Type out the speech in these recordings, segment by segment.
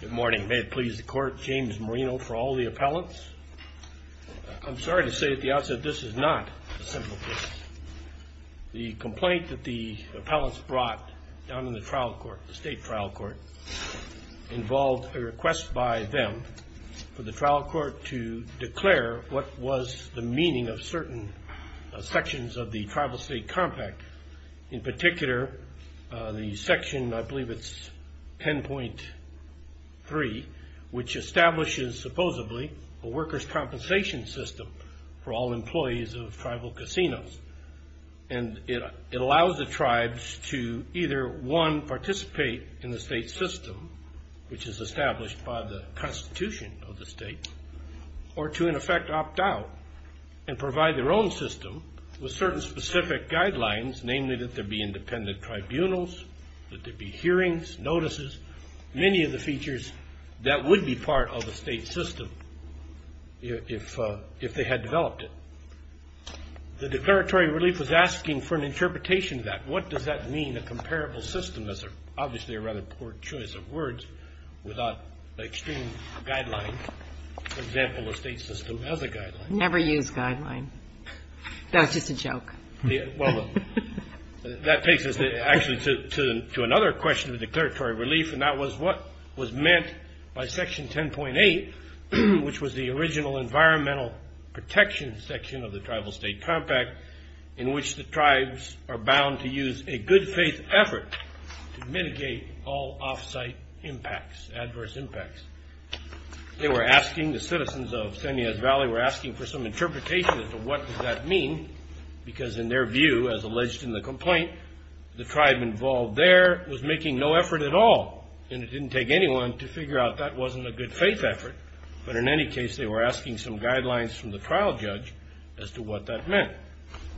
Good morning. May it please the Court, James Marino for all the appellants. I'm sorry to say at the outset that this is not a simple case. The complaint that the appellants brought down to the trial court, the state trial court, involved a request by them for the trial court to declare what was the meaning of certain sections of the Tribal-State Compact. In particular, the section, I believe it's 10.3, which establishes, supposedly, a workers' compensation system for all employees of tribal casinos. And it allows the tribes to either, one, participate in the state system, which is established by the Constitution of the state, or to, in effect, opt out and provide their own system with certain specific guidelines, namely that there be independent tribunals, that there be hearings, notices, many of the features that would be part of a state system if they had developed it. The declaratory relief was asking for an interpretation of that. What does that mean, a comparable system? That's obviously a rather poor choice of words without extreme guidelines. For example, a state system has a guideline. Never use guidelines. That was just a joke. Well, that takes us, actually, to another question of declaratory relief, and that was what was meant by Section 10.8, which was the original environmental protection section of the Tribal-State Compact in which the tribes are bound to use a good-faith effort to mitigate all off-site impacts, adverse impacts. They were asking, the citizens of Cineas Valley were asking, for some interpretation as to what does that mean, because in their view, as alleged in the complaint, the tribe involved there was making no effort at all, and it didn't take anyone to figure out that wasn't a good-faith effort. But in any case, they were asking some guidelines from the trial judge as to what that meant.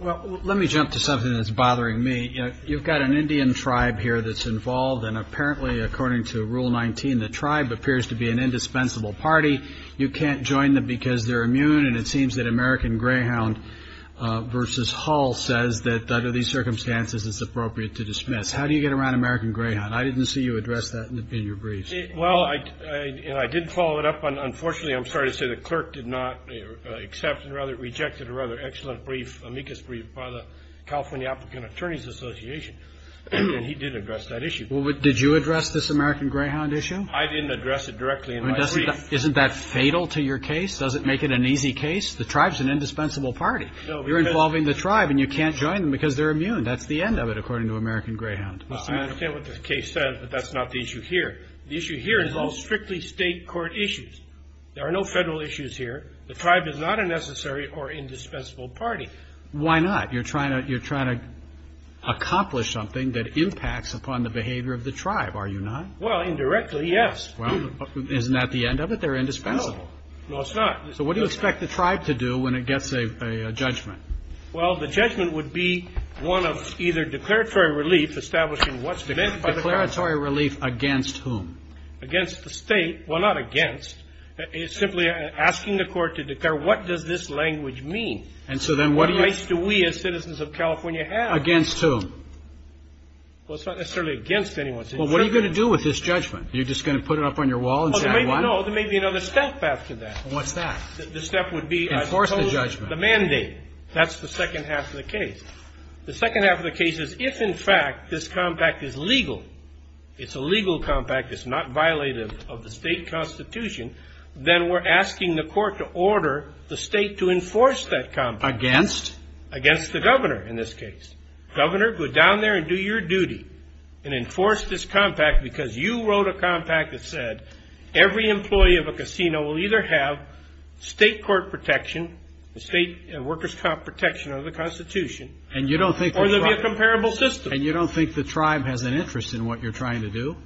Well, let me jump to something that's bothering me. You've got an Indian tribe here that's involved, and apparently, according to Rule 19, the tribe appears to be an indispensable party. You can't join them because they're immune, and it seems that American Greyhound v. Hull says that under these circumstances, it's appropriate to dismiss. How do you get around American Greyhound? I didn't see you address that in your briefs. Well, I didn't follow it up. Unfortunately, I'm sorry to say the clerk did not accept and rather rejected a rather excellent brief, amicus brief, by the California Applicant Attorneys Association, and he did address that issue. Did you address this American Greyhound issue? I didn't address it directly in my brief. Isn't that fatal to your case? Does it make it an easy case? The tribe's an indispensable party. You're involving the tribe, and you can't join them because they're immune. That's the end of it, according to American Greyhound. I understand what the case says, but that's not the issue here. The issue here involves strictly state court issues. There are no federal issues here. The tribe is not a necessary or indispensable party. Why not? You're trying to accomplish something that impacts upon the behavior of the tribe, are you not? Well, indirectly, yes. Well, isn't that the end of it? They're indispensable. No. No, it's not. So what do you expect the tribe to do when it gets a judgment? Well, the judgment would be one of either declaratory relief, establishing what's meant by the claim. Declaratory relief against whom? Against the state. Well, not against. It's simply asking the court to declare what does this language mean? And so then what do you? What rights do we as citizens of California have? Against whom? Well, it's not necessarily against anyone. Well, what are you going to do with this judgment? Are you just going to put it up on your wall and say I won? No, there may be another step after that. What's that? The step would be I've imposed the mandate. Enforce the judgment. That's the second half of the case. The second half of the case is if, in fact, this compact is legal, it's a legal compact, it's not violative of the state constitution, then we're asking the court to order the state to enforce that compact. Against? Against the governor in this case. Governor, go down there and do your duty and enforce this compact because you wrote a compact that said every employee of a casino will either have state court protection, state workers' protection under the constitution or there will be a comparable system. And you don't think the tribe has an interest in what you're trying to do?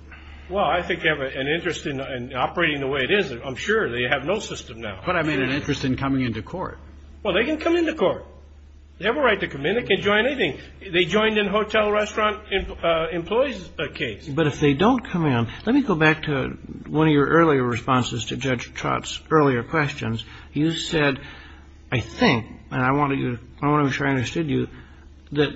Well, I think they have an interest in operating the way it is. I'm sure. They have no system now. But I made an interest in coming into court. Well, they can come into court. They have a right to come in. They can join anything. They joined in a hotel restaurant employee's case. But if they don't come in, let me go back to one of your earlier responses to Judge Trott's earlier questions. You said, I think, and I want to be sure I understood you, that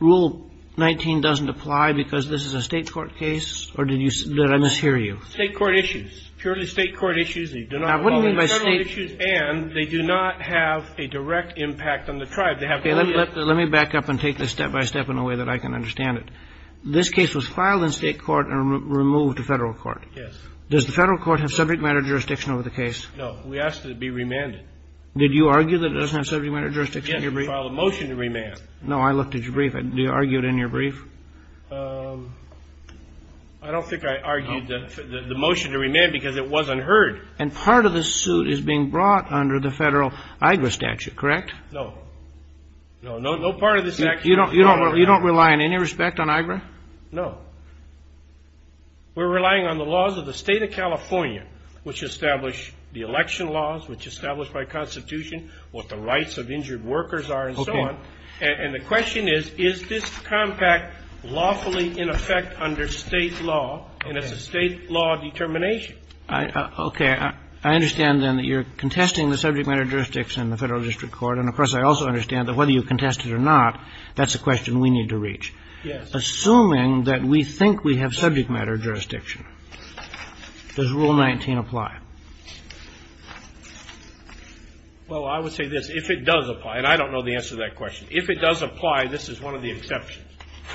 Rule 19 doesn't apply because this is a state court case or did I mishear you? State court issues. Purely state court issues. They do not involve internal issues and they do not have a direct impact on the tribe. They have no interest. Let me back up and take this step by step in a way that I can understand it. This case was filed in state court and removed to federal court. Yes. Does the federal court have subject matter jurisdiction over the case? No. We asked it to be remanded. Did you argue that it doesn't have subject matter jurisdiction? Yes. You filed a motion to remand. No. I looked at your brief. Do you argue it in your brief? I don't think I argued the motion to remand because it was unheard. And part of the suit is being brought under the federal AIGRA statute, correct? No. No. No part of the statute. You don't rely on any respect on AIGRA? No. We're relying on the laws of the State of California, which establish the election laws, which establish by Constitution what the rights of injured workers are and so on. Okay. And the question is, is this compact lawfully in effect under State law and it's a State law determination? Okay. I understand then that you're contesting the subject matter jurisdiction in the federal district court. And, of course, I also understand that whether you contest it or not, that's a question we need to reach. Yes. Assuming that we think we have subject matter jurisdiction, does Rule 19 apply? Well, I would say this. If it does apply, and I don't know the answer to that question. If it does apply, this is one of the exceptions.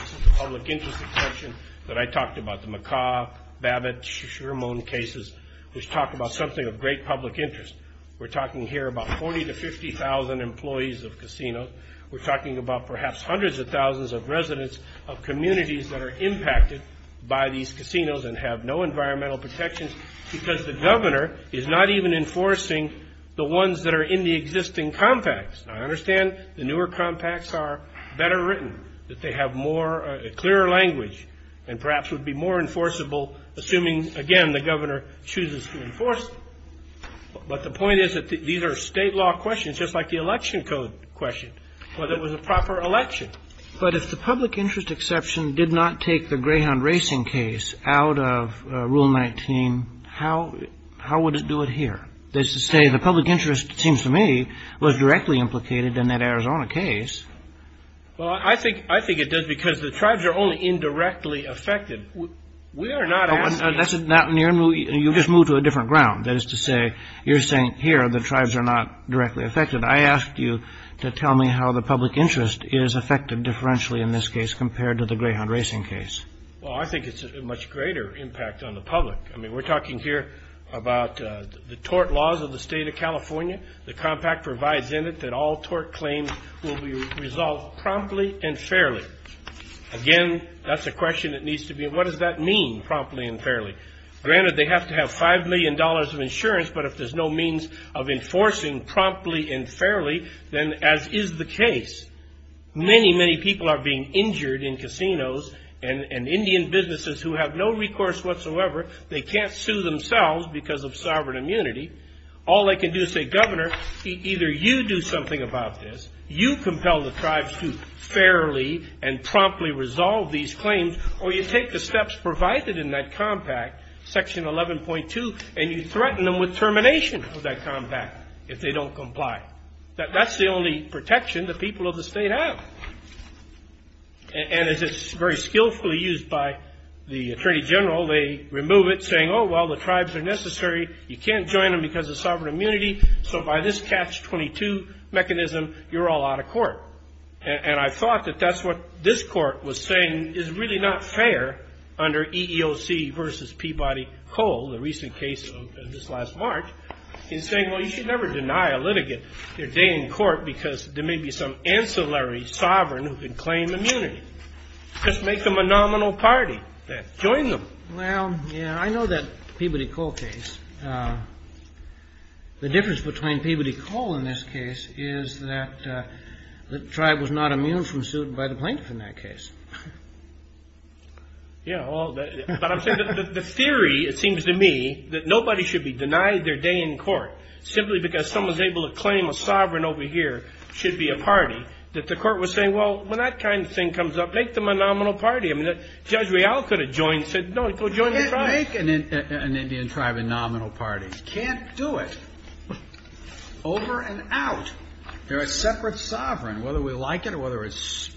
This is a public interest exception that I talked about, the McCaw, Babbitt, Sherman cases, which talk about something of great public interest. We're talking here about 40,000 to 50,000 employees of casinos. We're talking about perhaps hundreds of thousands of residents of communities that are impacted by these casinos and have no environmental protections because the governor is not even enforcing the ones that are in the existing compacts. I understand the newer compacts are better written, that they have more clear language and perhaps would be more enforceable, assuming, again, the governor chooses to enforce them. But the point is that these are state law questions, just like the election code question, whether it was a proper election. But if the public interest exception did not take the Greyhound Racing case out of Rule 19, how would it do it here? That is to say, the public interest, it seems to me, was directly implicated in that Arizona case. Well, I think it does because the tribes are only indirectly affected. We are not asking. You just moved to a different ground. That is to say, you're saying here the tribes are not directly affected. I asked you to tell me how the public interest is affected differentially in this case compared to the Greyhound Racing case. Well, I think it's a much greater impact on the public. I mean, we're talking here about the tort laws of the state of California. The compact provides in it that all tort claims will be resolved promptly and fairly. Again, that's a question that needs to be, what does that mean, promptly and fairly? Granted, they have to have $5 million of insurance, but if there's no means of enforcing promptly and fairly, then as is the case, many, many people are being injured in casinos and Indian businesses who have no recourse whatsoever. They can't sue themselves because of sovereign immunity. All they can do is say, Governor, either you do something about this, you compel the tribes to fairly and promptly resolve these claims, or you take the steps provided in that compact, Section 11.2, and you threaten them with termination of that compact if they don't comply. That's the only protection the people of the state have. And it's very skillfully used by the Attorney General. They remove it, saying, oh, well, the tribes are necessary. You can't join them because of sovereign immunity. So by this Catch-22 mechanism, you're all out of court. And I thought that that's what this Court was saying is really not fair under EEOC versus Peabody Coal, the recent case of this last March, in saying, well, you should never deny a litigant their day in court because there may be some ancillary sovereign who can claim immunity. Just make them a nominal party. Join them. Well, yeah, I know that Peabody Coal case. The difference between Peabody Coal in this case is that the tribe was not immune from suit by the plaintiff in that case. Yeah, well, but I'm saying the theory, it seems to me, that nobody should be denied their day in court simply because someone's able to claim a sovereign over here should be a party, that the Court was saying, well, when that kind of thing comes up, make them a nominal party. I mean, Judge Real could have joined, said, no, go join the tribe. You can't make an Indian tribe a nominal party. You can't do it. Over and out. They're a separate sovereign. Whether we like it or whether it's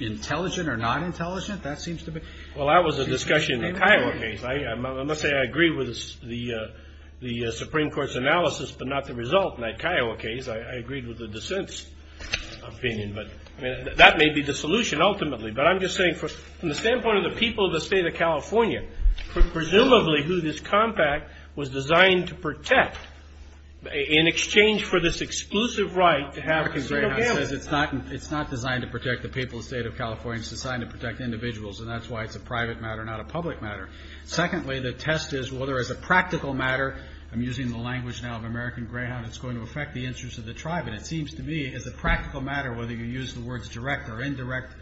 intelligent or not intelligent, that seems to be. Well, that was a discussion in the Kiowa case. I must say I agree with the Supreme Court's analysis, but not the result in that Kiowa case. I agreed with the dissent's opinion. But that may be the solution ultimately. But I'm just saying from the standpoint of the people of the State of California, presumably who this compact was designed to protect in exchange for this exclusive right to have a single family. American Greyhound says it's not designed to protect the people of the State of California. It's designed to protect individuals, and that's why it's a private matter, not a public matter. Secondly, the test is whether as a practical matter, I'm using the language now of American Greyhound, it's going to affect the interests of the tribe. And it seems to me as a practical matter, whether you use the words direct or indirect,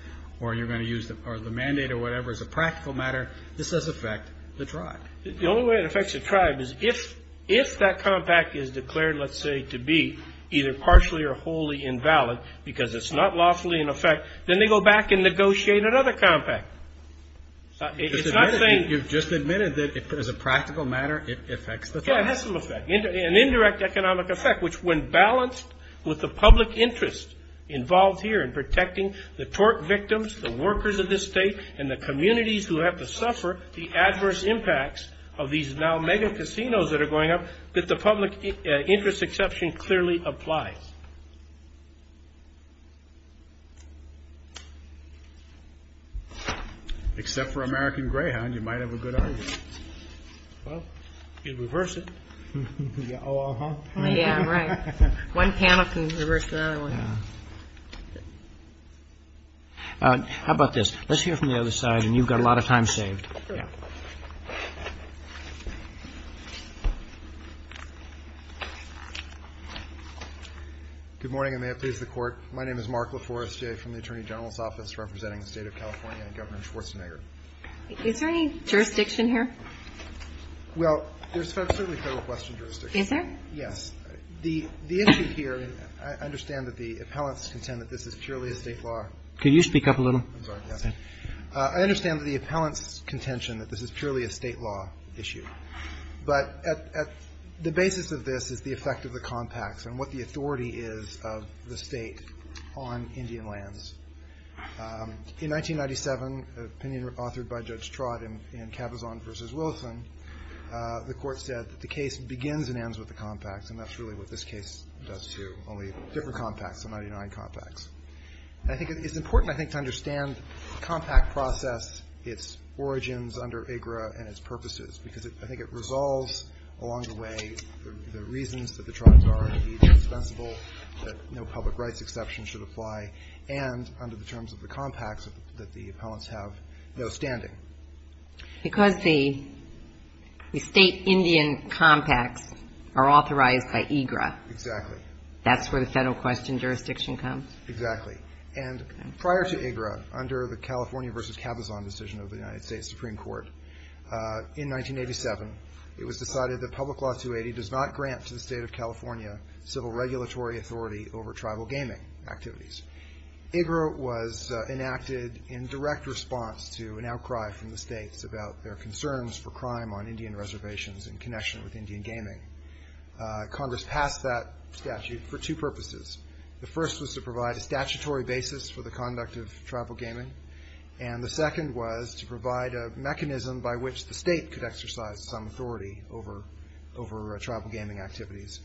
or you're going to use the mandate or whatever as a practical matter, this does affect the tribe. The only way it affects the tribe is if that compact is declared, let's say, to be either partially or wholly invalid because it's not lawfully in effect, then they go back and negotiate another compact. You've just admitted that as a practical matter, it affects the tribe. Yeah, it has some effect. An indirect economic effect, which when balanced with the public interest involved here in protecting the tort victims, the workers of this state, and the communities who have to suffer the adverse impacts of these now mega casinos that are going up, that the public interest exception clearly applies. Except for American Greyhound, you might have a good argument. Well, you can reverse it. Oh, uh-huh. Yeah, right. One panel can reverse the other one. How about this? Let's hear from the other side, and you've got a lot of time saved. Good morning, and may it please the Court. My name is Mark LaForestier from the Attorney General's Office representing the State of California and Governor Schwarzenegger. Is there any jurisdiction here? Well, there's certainly Federal Western jurisdiction. Is there? Yes. The issue here, and I understand that the appellants contend that this is purely a State law. Could you speak up a little? I'm sorry. Yes. I understand that the appellants contention that this is purely a State law issue, but at the basis of this is the effect of the compacts on what the authority is of the State on Indian lands. In 1997, an opinion authored by Judge Trott in Cabazon v. Wilson, the Court said that the case begins and ends with the compacts, and that's really what this case does, too, only different compacts, the 99 compacts. And I think it's important, I think, to understand the compact process, its origins under IGRA and its purposes, because I think it resolves along the way the reasons that the tribes are to be dispensable, that no public rights exception should apply, and under the terms of the compacts that the appellants have no standing. Because the State Indian compacts are authorized by IGRA. Exactly. That's where the Federal question jurisdiction comes. Exactly. And prior to IGRA, under the California v. Cabazon decision of the United States Supreme Court, in 1987, it was decided that Public Law 280 does not grant to the State of California civil regulatory authority over tribal gaming activities. IGRA was enacted in direct response to an outcry from the States about their concerns for crime on Indian reservations in connection with Indian gaming. Congress passed that statute for two purposes. The first was to provide a statutory basis for the conduct of tribal gaming, and the second was to provide a mechanism by which the State could exercise some authority over tribal gaming activities.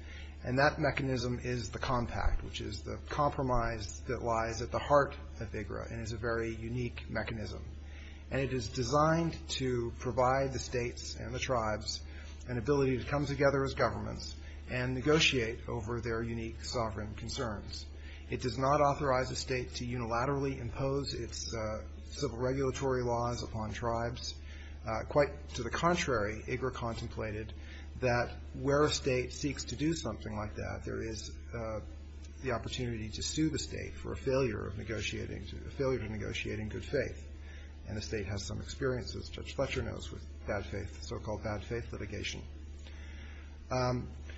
And that mechanism is the compact, which is the compromise that lies at the heart of IGRA and is a very unique mechanism. And it is designed to provide the States and the tribes an ability to come together as governments and negotiate over their unique sovereign concerns. It does not authorize a State to unilaterally impose its civil regulatory laws upon tribes. Quite to the contrary, IGRA contemplated that where a State seeks to do something like that, there is the opportunity to sue the State for a failure of negotiating good faith. And the State has some experience, as Judge Fletcher knows, with bad faith, so-called bad faith litigation.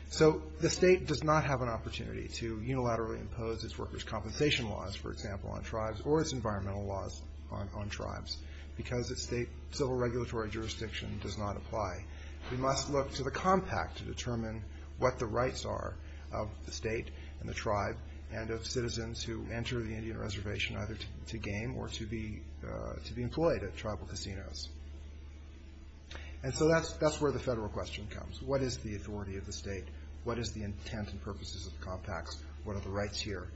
So the State does not have an opportunity to unilaterally impose its workers' compensation laws, for example, on tribes, or its environmental laws on tribes, because its state civil regulatory jurisdiction does not apply. We must look to the compact to determine what the rights are of the State and the tribe and of citizens who enter the Indian reservation either to game or to be employed at tribal casinos. And so that's where the federal question comes. What is the authority of the State? What is the intent and purposes of the compacts? What are the rights here?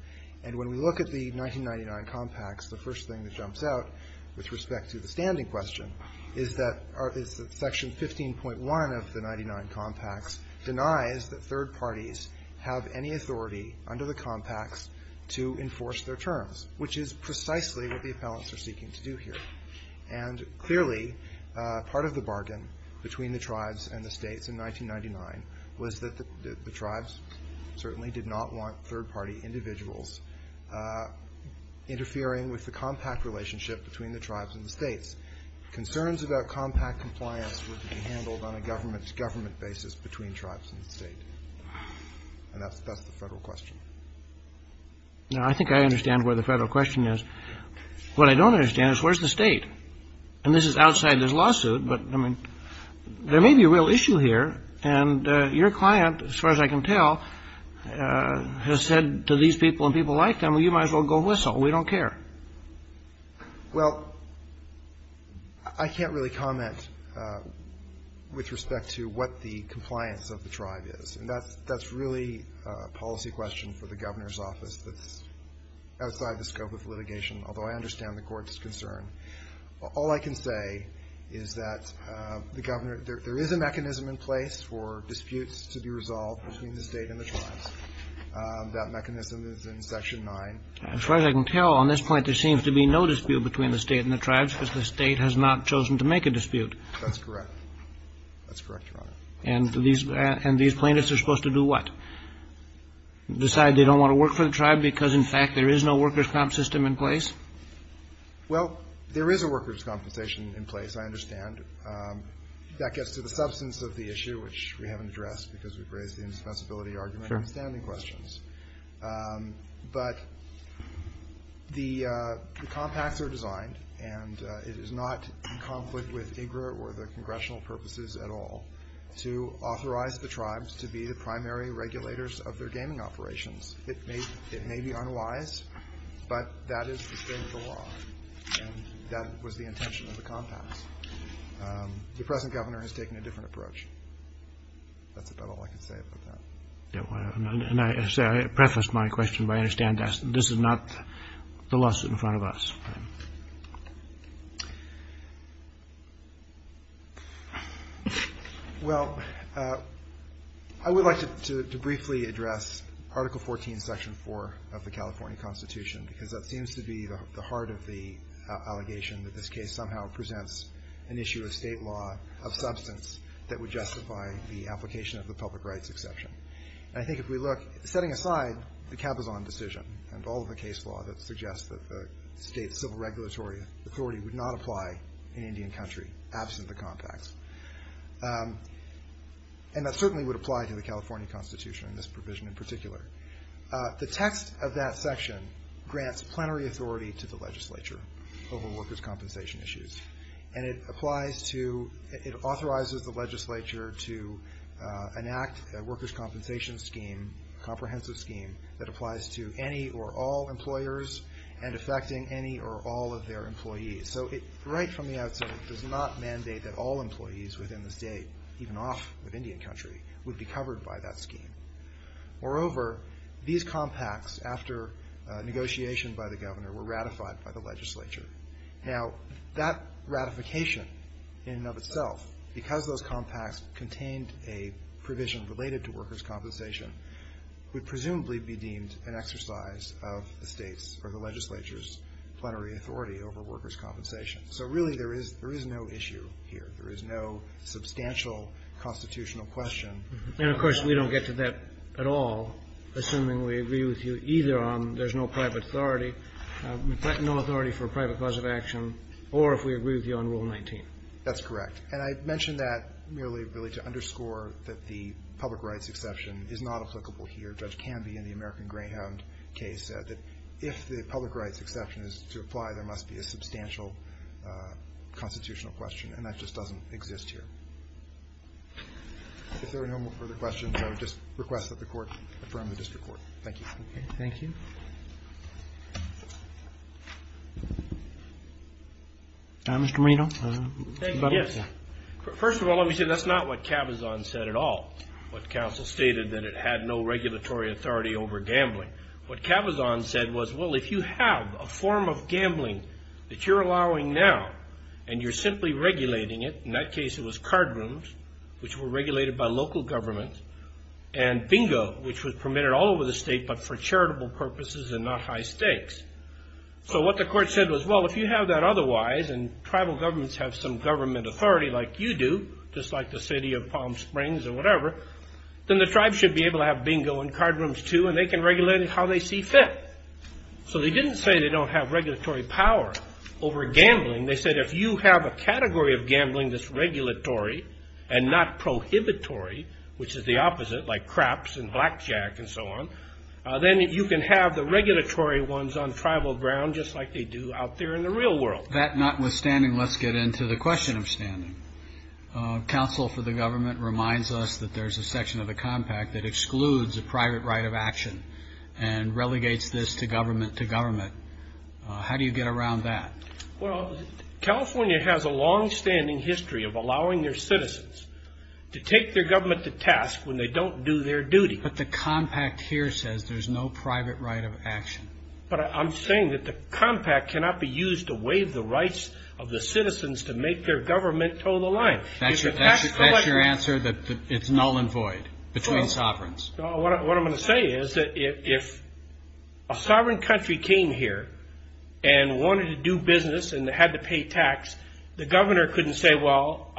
And when we look at the 1999 compacts, the first thing that jumps out with respect to the standing question is that Section 15.1 of the 1999 compacts denies that third parties have any authority under the compacts to enforce their terms, which is precisely what the appellants are seeking to do here. And clearly, part of the bargain between the tribes and the States in 1999 was that the tribes certainly did not want third-party individuals interfering with the compact relationship between the tribes and the States. Concerns about compact compliance were to be handled on a government-to-government basis between tribes and the State. And that's the federal question. No, I think I understand where the federal question is. What I don't understand is where's the State? And this is outside this lawsuit, but, I mean, there may be a real issue here. And your client, as far as I can tell, has said to these people and people like them, well, you might as well go whistle. We don't care. Well, I can't really comment with respect to what the compliance of the tribe is. And that's really a policy question for the Governor's office that's outside the scope of litigation, although I understand the Court's concern. All I can say is that the Governor – there is a mechanism in place for disputes to be resolved between the State and the tribes. That mechanism is in Section 9. As far as I can tell, on this point, there seems to be no dispute between the State and the tribes because the State has not chosen to make a dispute. That's correct. That's correct, Your Honor. And these plaintiffs are supposed to do what? Decide they don't want to work for the tribe because, in fact, there is no workers' comp system in place? Well, there is a workers' compensation in place, I understand. That gets to the substance of the issue, which we haven't addressed because we've raised the indispensability argument and standing questions. But the compacts are designed, and it is not in conflict with IGRA or the congressional purposes at all, to authorize the tribes to be the primary regulators of their gaming operations. It may be unwise, but that is the state of the law, and that was the intention of the compacts. The present Governor has taken a different approach. That's about all I can say about that. And I preface my question by understanding that this is not the lawsuit in front of us. Well, I would like to briefly address Article 14, Section 4 of the California Constitution because that seems to be the heart of the allegation that this case somehow presents an issue of state law of substance that would justify the application of the public rights exception. And I think if we look, setting aside the Cabazon decision and all of the case law that suggests that the state's civil regulatory authority would not apply in Indian country absent the compacts, and that certainly would apply to the California Constitution in this provision in particular, the text of that section grants plenary authority to the legislature over workers' compensation issues. And it applies to, it authorizes the legislature to enact a workers' compensation scheme, a comprehensive scheme that applies to any or all employers and affecting any or all of their employees. So right from the outset, it does not mandate that all employees within the state, even off of Indian country, would be covered by that scheme. Moreover, these compacts, after negotiation by the Governor, were ratified by the legislature. Now, that ratification in and of itself, because those compacts contained a provision related to workers' compensation, would presumably be deemed an exercise of the State's or the legislature's plenary authority over workers' compensation. So really there is no issue here. There is no substantial constitutional question. And, of course, we don't get to that at all, assuming we agree with you either on there's no private authority, no authority for a private cause of action, or if we agree with you on Rule 19. That's correct. And I mentioned that merely really to underscore that the public rights exception is not applicable here. Judge Canby in the American Greyhound case said that if the public rights exception is to apply, there must be a substantial constitutional question. And that just doesn't exist here. If there are no further questions, I would just request that the Court affirm the district court. Thank you. Thank you. Mr. Moreno. Yes. First of all, let me say that's not what Cabazon said at all, what counsel stated that it had no regulatory authority over gambling. What Cabazon said was, well, if you have a form of gambling that you're allowing now and you're simply regulating it, in that case it was card rooms, which were regulated by local government, and bingo, which was permitted all over the state but for charitable purposes and not high stakes. So what the Court said was, well, if you have that otherwise and tribal governments have some government authority like you do, just like the city of Palm Springs or whatever, then the tribe should be able to have bingo and card rooms too and they can regulate it how they see fit. So they didn't say they don't have regulatory power over gambling. They said if you have a category of gambling that's regulatory and not prohibitory, which is the opposite like craps and blackjack and so on, then you can have the regulatory ones on tribal ground just like they do out there in the real world. That notwithstanding, let's get into the question of standing. Counsel for the government reminds us that there's a section of the compact that excludes a private right of action and relegates this to government to government. How do you get around that? Well, California has a longstanding history of allowing their citizens to take their government to task when they don't do their duty. But the compact here says there's no private right of action. But I'm saying that the compact cannot be used to waive the rights of the citizens to make their government toe the line. That's your answer, that it's null and void between sovereigns? What I'm going to say is that if a sovereign country came here and wanted to do business and had to pay tax, the governor couldn't say, well,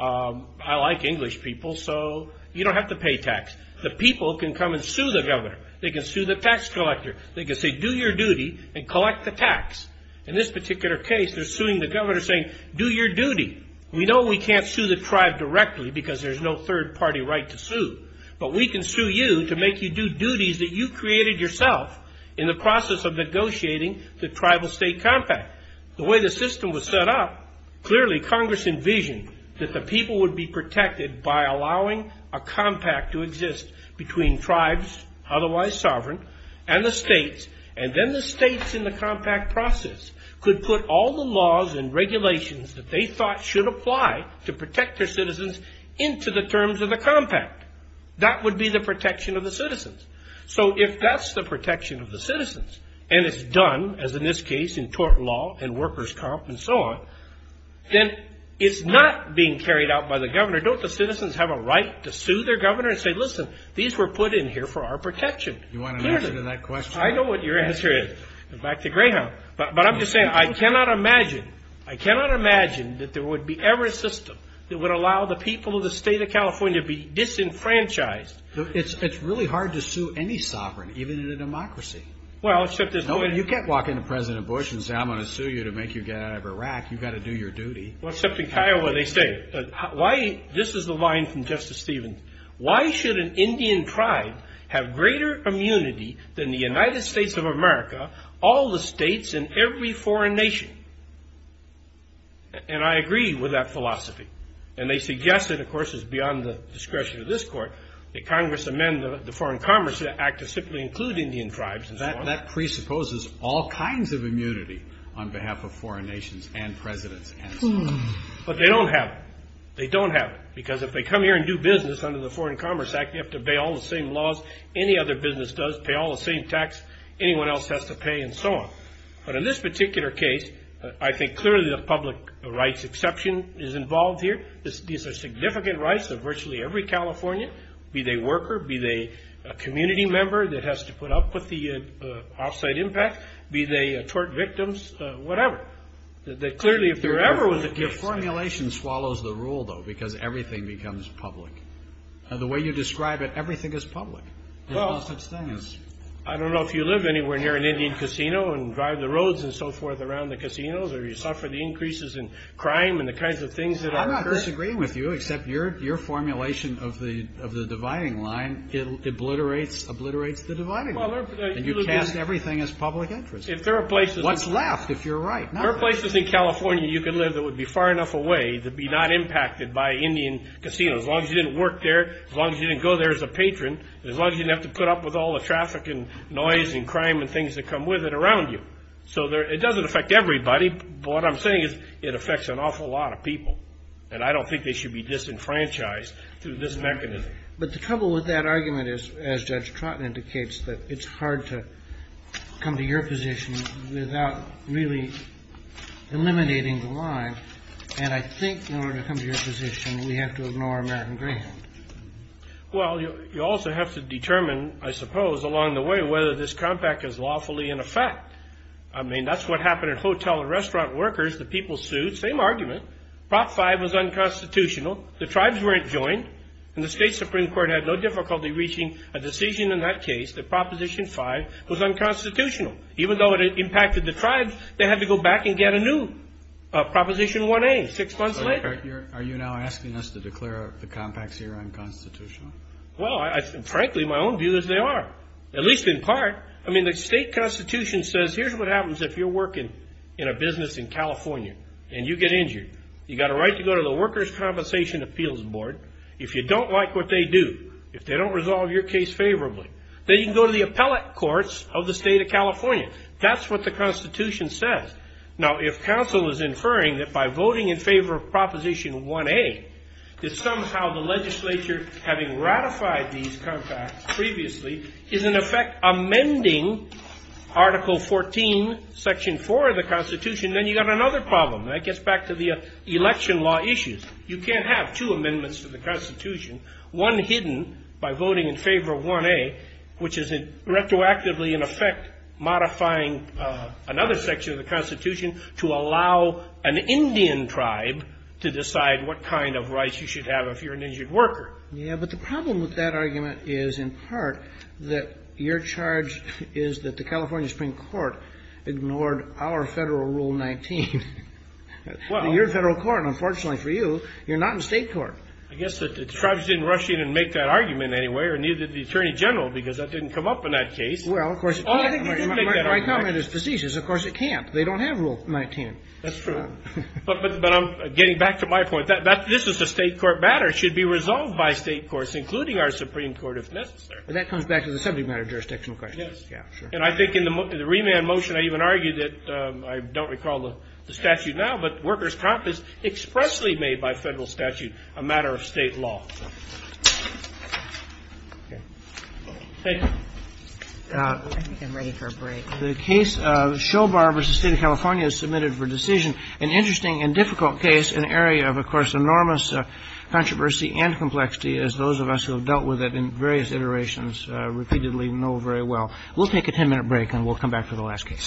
I like English people, so you don't have to pay tax. The people can come and sue the governor. They can sue the tax collector. They can say, do your duty and collect the tax. In this particular case, they're suing the governor saying, do your duty. We know we can't sue the tribe directly because there's no third-party right to sue. But we can sue you to make you do duties that you created yourself in the process of negotiating the tribal-state compact. The way the system was set up, clearly Congress envisioned that the people would be protected by allowing a compact to exist between tribes, otherwise sovereign, and the states. And then the states in the compact process could put all the laws and regulations that they thought should apply to protect their citizens into the terms of the compact. That would be the protection of the citizens. So if that's the protection of the citizens, and it's done, as in this case, in tort law and workers' comp and so on, then it's not being carried out by the governor. Don't the citizens have a right to sue their governor and say, listen, these were put in here for our protection? You want an answer to that question? I know what your answer is. Back to Greyhound. But I'm just saying I cannot imagine, I cannot imagine that there would be ever a system that would allow the people of the state of California to be disenfranchised. It's really hard to sue any sovereign, even in a democracy. Well, except there's no way. You can't walk into President Bush and say I'm going to sue you to make you get out of Iraq. You've got to do your duty. Except in Kiowa they say. This is the line from Justice Stevens. Why should an Indian tribe have greater immunity than the United States of America, all the states and every foreign nation? And I agree with that philosophy. And they suggest it, of course, is beyond the discretion of this court, that Congress amend the Foreign Commerce Act to simply include Indian tribes and so on. That presupposes all kinds of immunity on behalf of foreign nations and presidents and so on. But they don't have it. They don't have it because if they come here and do business under the Foreign Commerce Act, you have to obey all the same laws any other business does, pay all the same tax anyone else has to pay and so on. But in this particular case, I think clearly the public rights exception is involved here. These are significant rights of virtually every Californian, be they worker, be they a community member that has to put up with the off-site impact, be they tort victims, whatever. Clearly, if there ever was a case. Your formulation swallows the rule, though, because everything becomes public. The way you describe it, everything is public in all such things. I don't know if you live anywhere near an Indian casino and drive the roads and so forth around the casinos or you suffer the increases in crime and the kinds of things that occur. I'm not disagreeing with you, except your formulation of the dividing line obliterates the dividing line. And you cast everything as public interest. If there are places. What's left, if you're right. There are places in California you could live that would be far enough away to be not impacted by Indian casinos. As long as you didn't work there, as long as you didn't go there as a patron, as long as you didn't have to put up with all the traffic and noise and crime and things that come with it around you. So it doesn't affect everybody. But what I'm saying is it affects an awful lot of people. And I don't think they should be disenfranchised through this mechanism. But the trouble with that argument is, as Judge Trotten indicates, that it's hard to come to your position without really eliminating the line. And I think in order to come to your position, we have to ignore American Green. Well, you also have to determine, I suppose, along the way, whether this compact is lawfully in effect. I mean, that's what happened in hotel and restaurant workers. The people sued. Same argument. Prop 5 was unconstitutional. The tribes weren't joined. And the state Supreme Court had no difficulty reaching a decision in that case that Proposition 5 was unconstitutional. Even though it impacted the tribes, they had to go back and get a new Proposition 1A six months later. Are you now asking us to declare the compacts here unconstitutional? Well, frankly, my own view is they are, at least in part. I mean, the state constitution says here's what happens if you're working in a business in California and you get injured. You've got a right to go to the Workers' Compensation Appeals Board. If you don't like what they do, if they don't resolve your case favorably, then you can go to the appellate courts of the state of California. That's what the constitution says. Now, if counsel is inferring that by voting in favor of Proposition 1A, that somehow the legislature, having ratified these compacts previously, is in effect amending Article 14, Section 4 of the constitution, then you've got another problem. And that gets back to the election law issues. You can't have two amendments to the constitution, one hidden by voting in favor of 1A, which is retroactively, in effect, modifying another section of the constitution to allow an Indian tribe to decide what kind of rights you should have if you're an injured worker. Yeah, but the problem with that argument is, in part, that your charge is that the California Supreme Court ignored our Federal Rule 19. Your Federal Court, unfortunately for you, you're not in state court. I guess that the tribes didn't rush in and make that argument anyway, or neither did the Attorney General, because that didn't come up in that case. Well, of course it can't. My comment is facetious. Of course it can't. They don't have Rule 19. That's true. But I'm getting back to my point. This is a state court matter. It should be resolved by state courts, including our Supreme Court, if necessary. But that comes back to the subject matter of jurisdictional questions. Yes. Yeah, sure. And I think in the remand motion, I even argue that I don't recall the statute now, but workers' comp is expressly made by Federal statute a matter of state law. Thank you. I think I'm ready for a break. The case of Show Bar v. State of California is submitted for decision, an interesting and difficult case, an area of, of course, enormous controversy and complexity, as those of us who have dealt with it in various iterations repeatedly know very well. We'll take a 10-minute break, and we'll come back to the last case.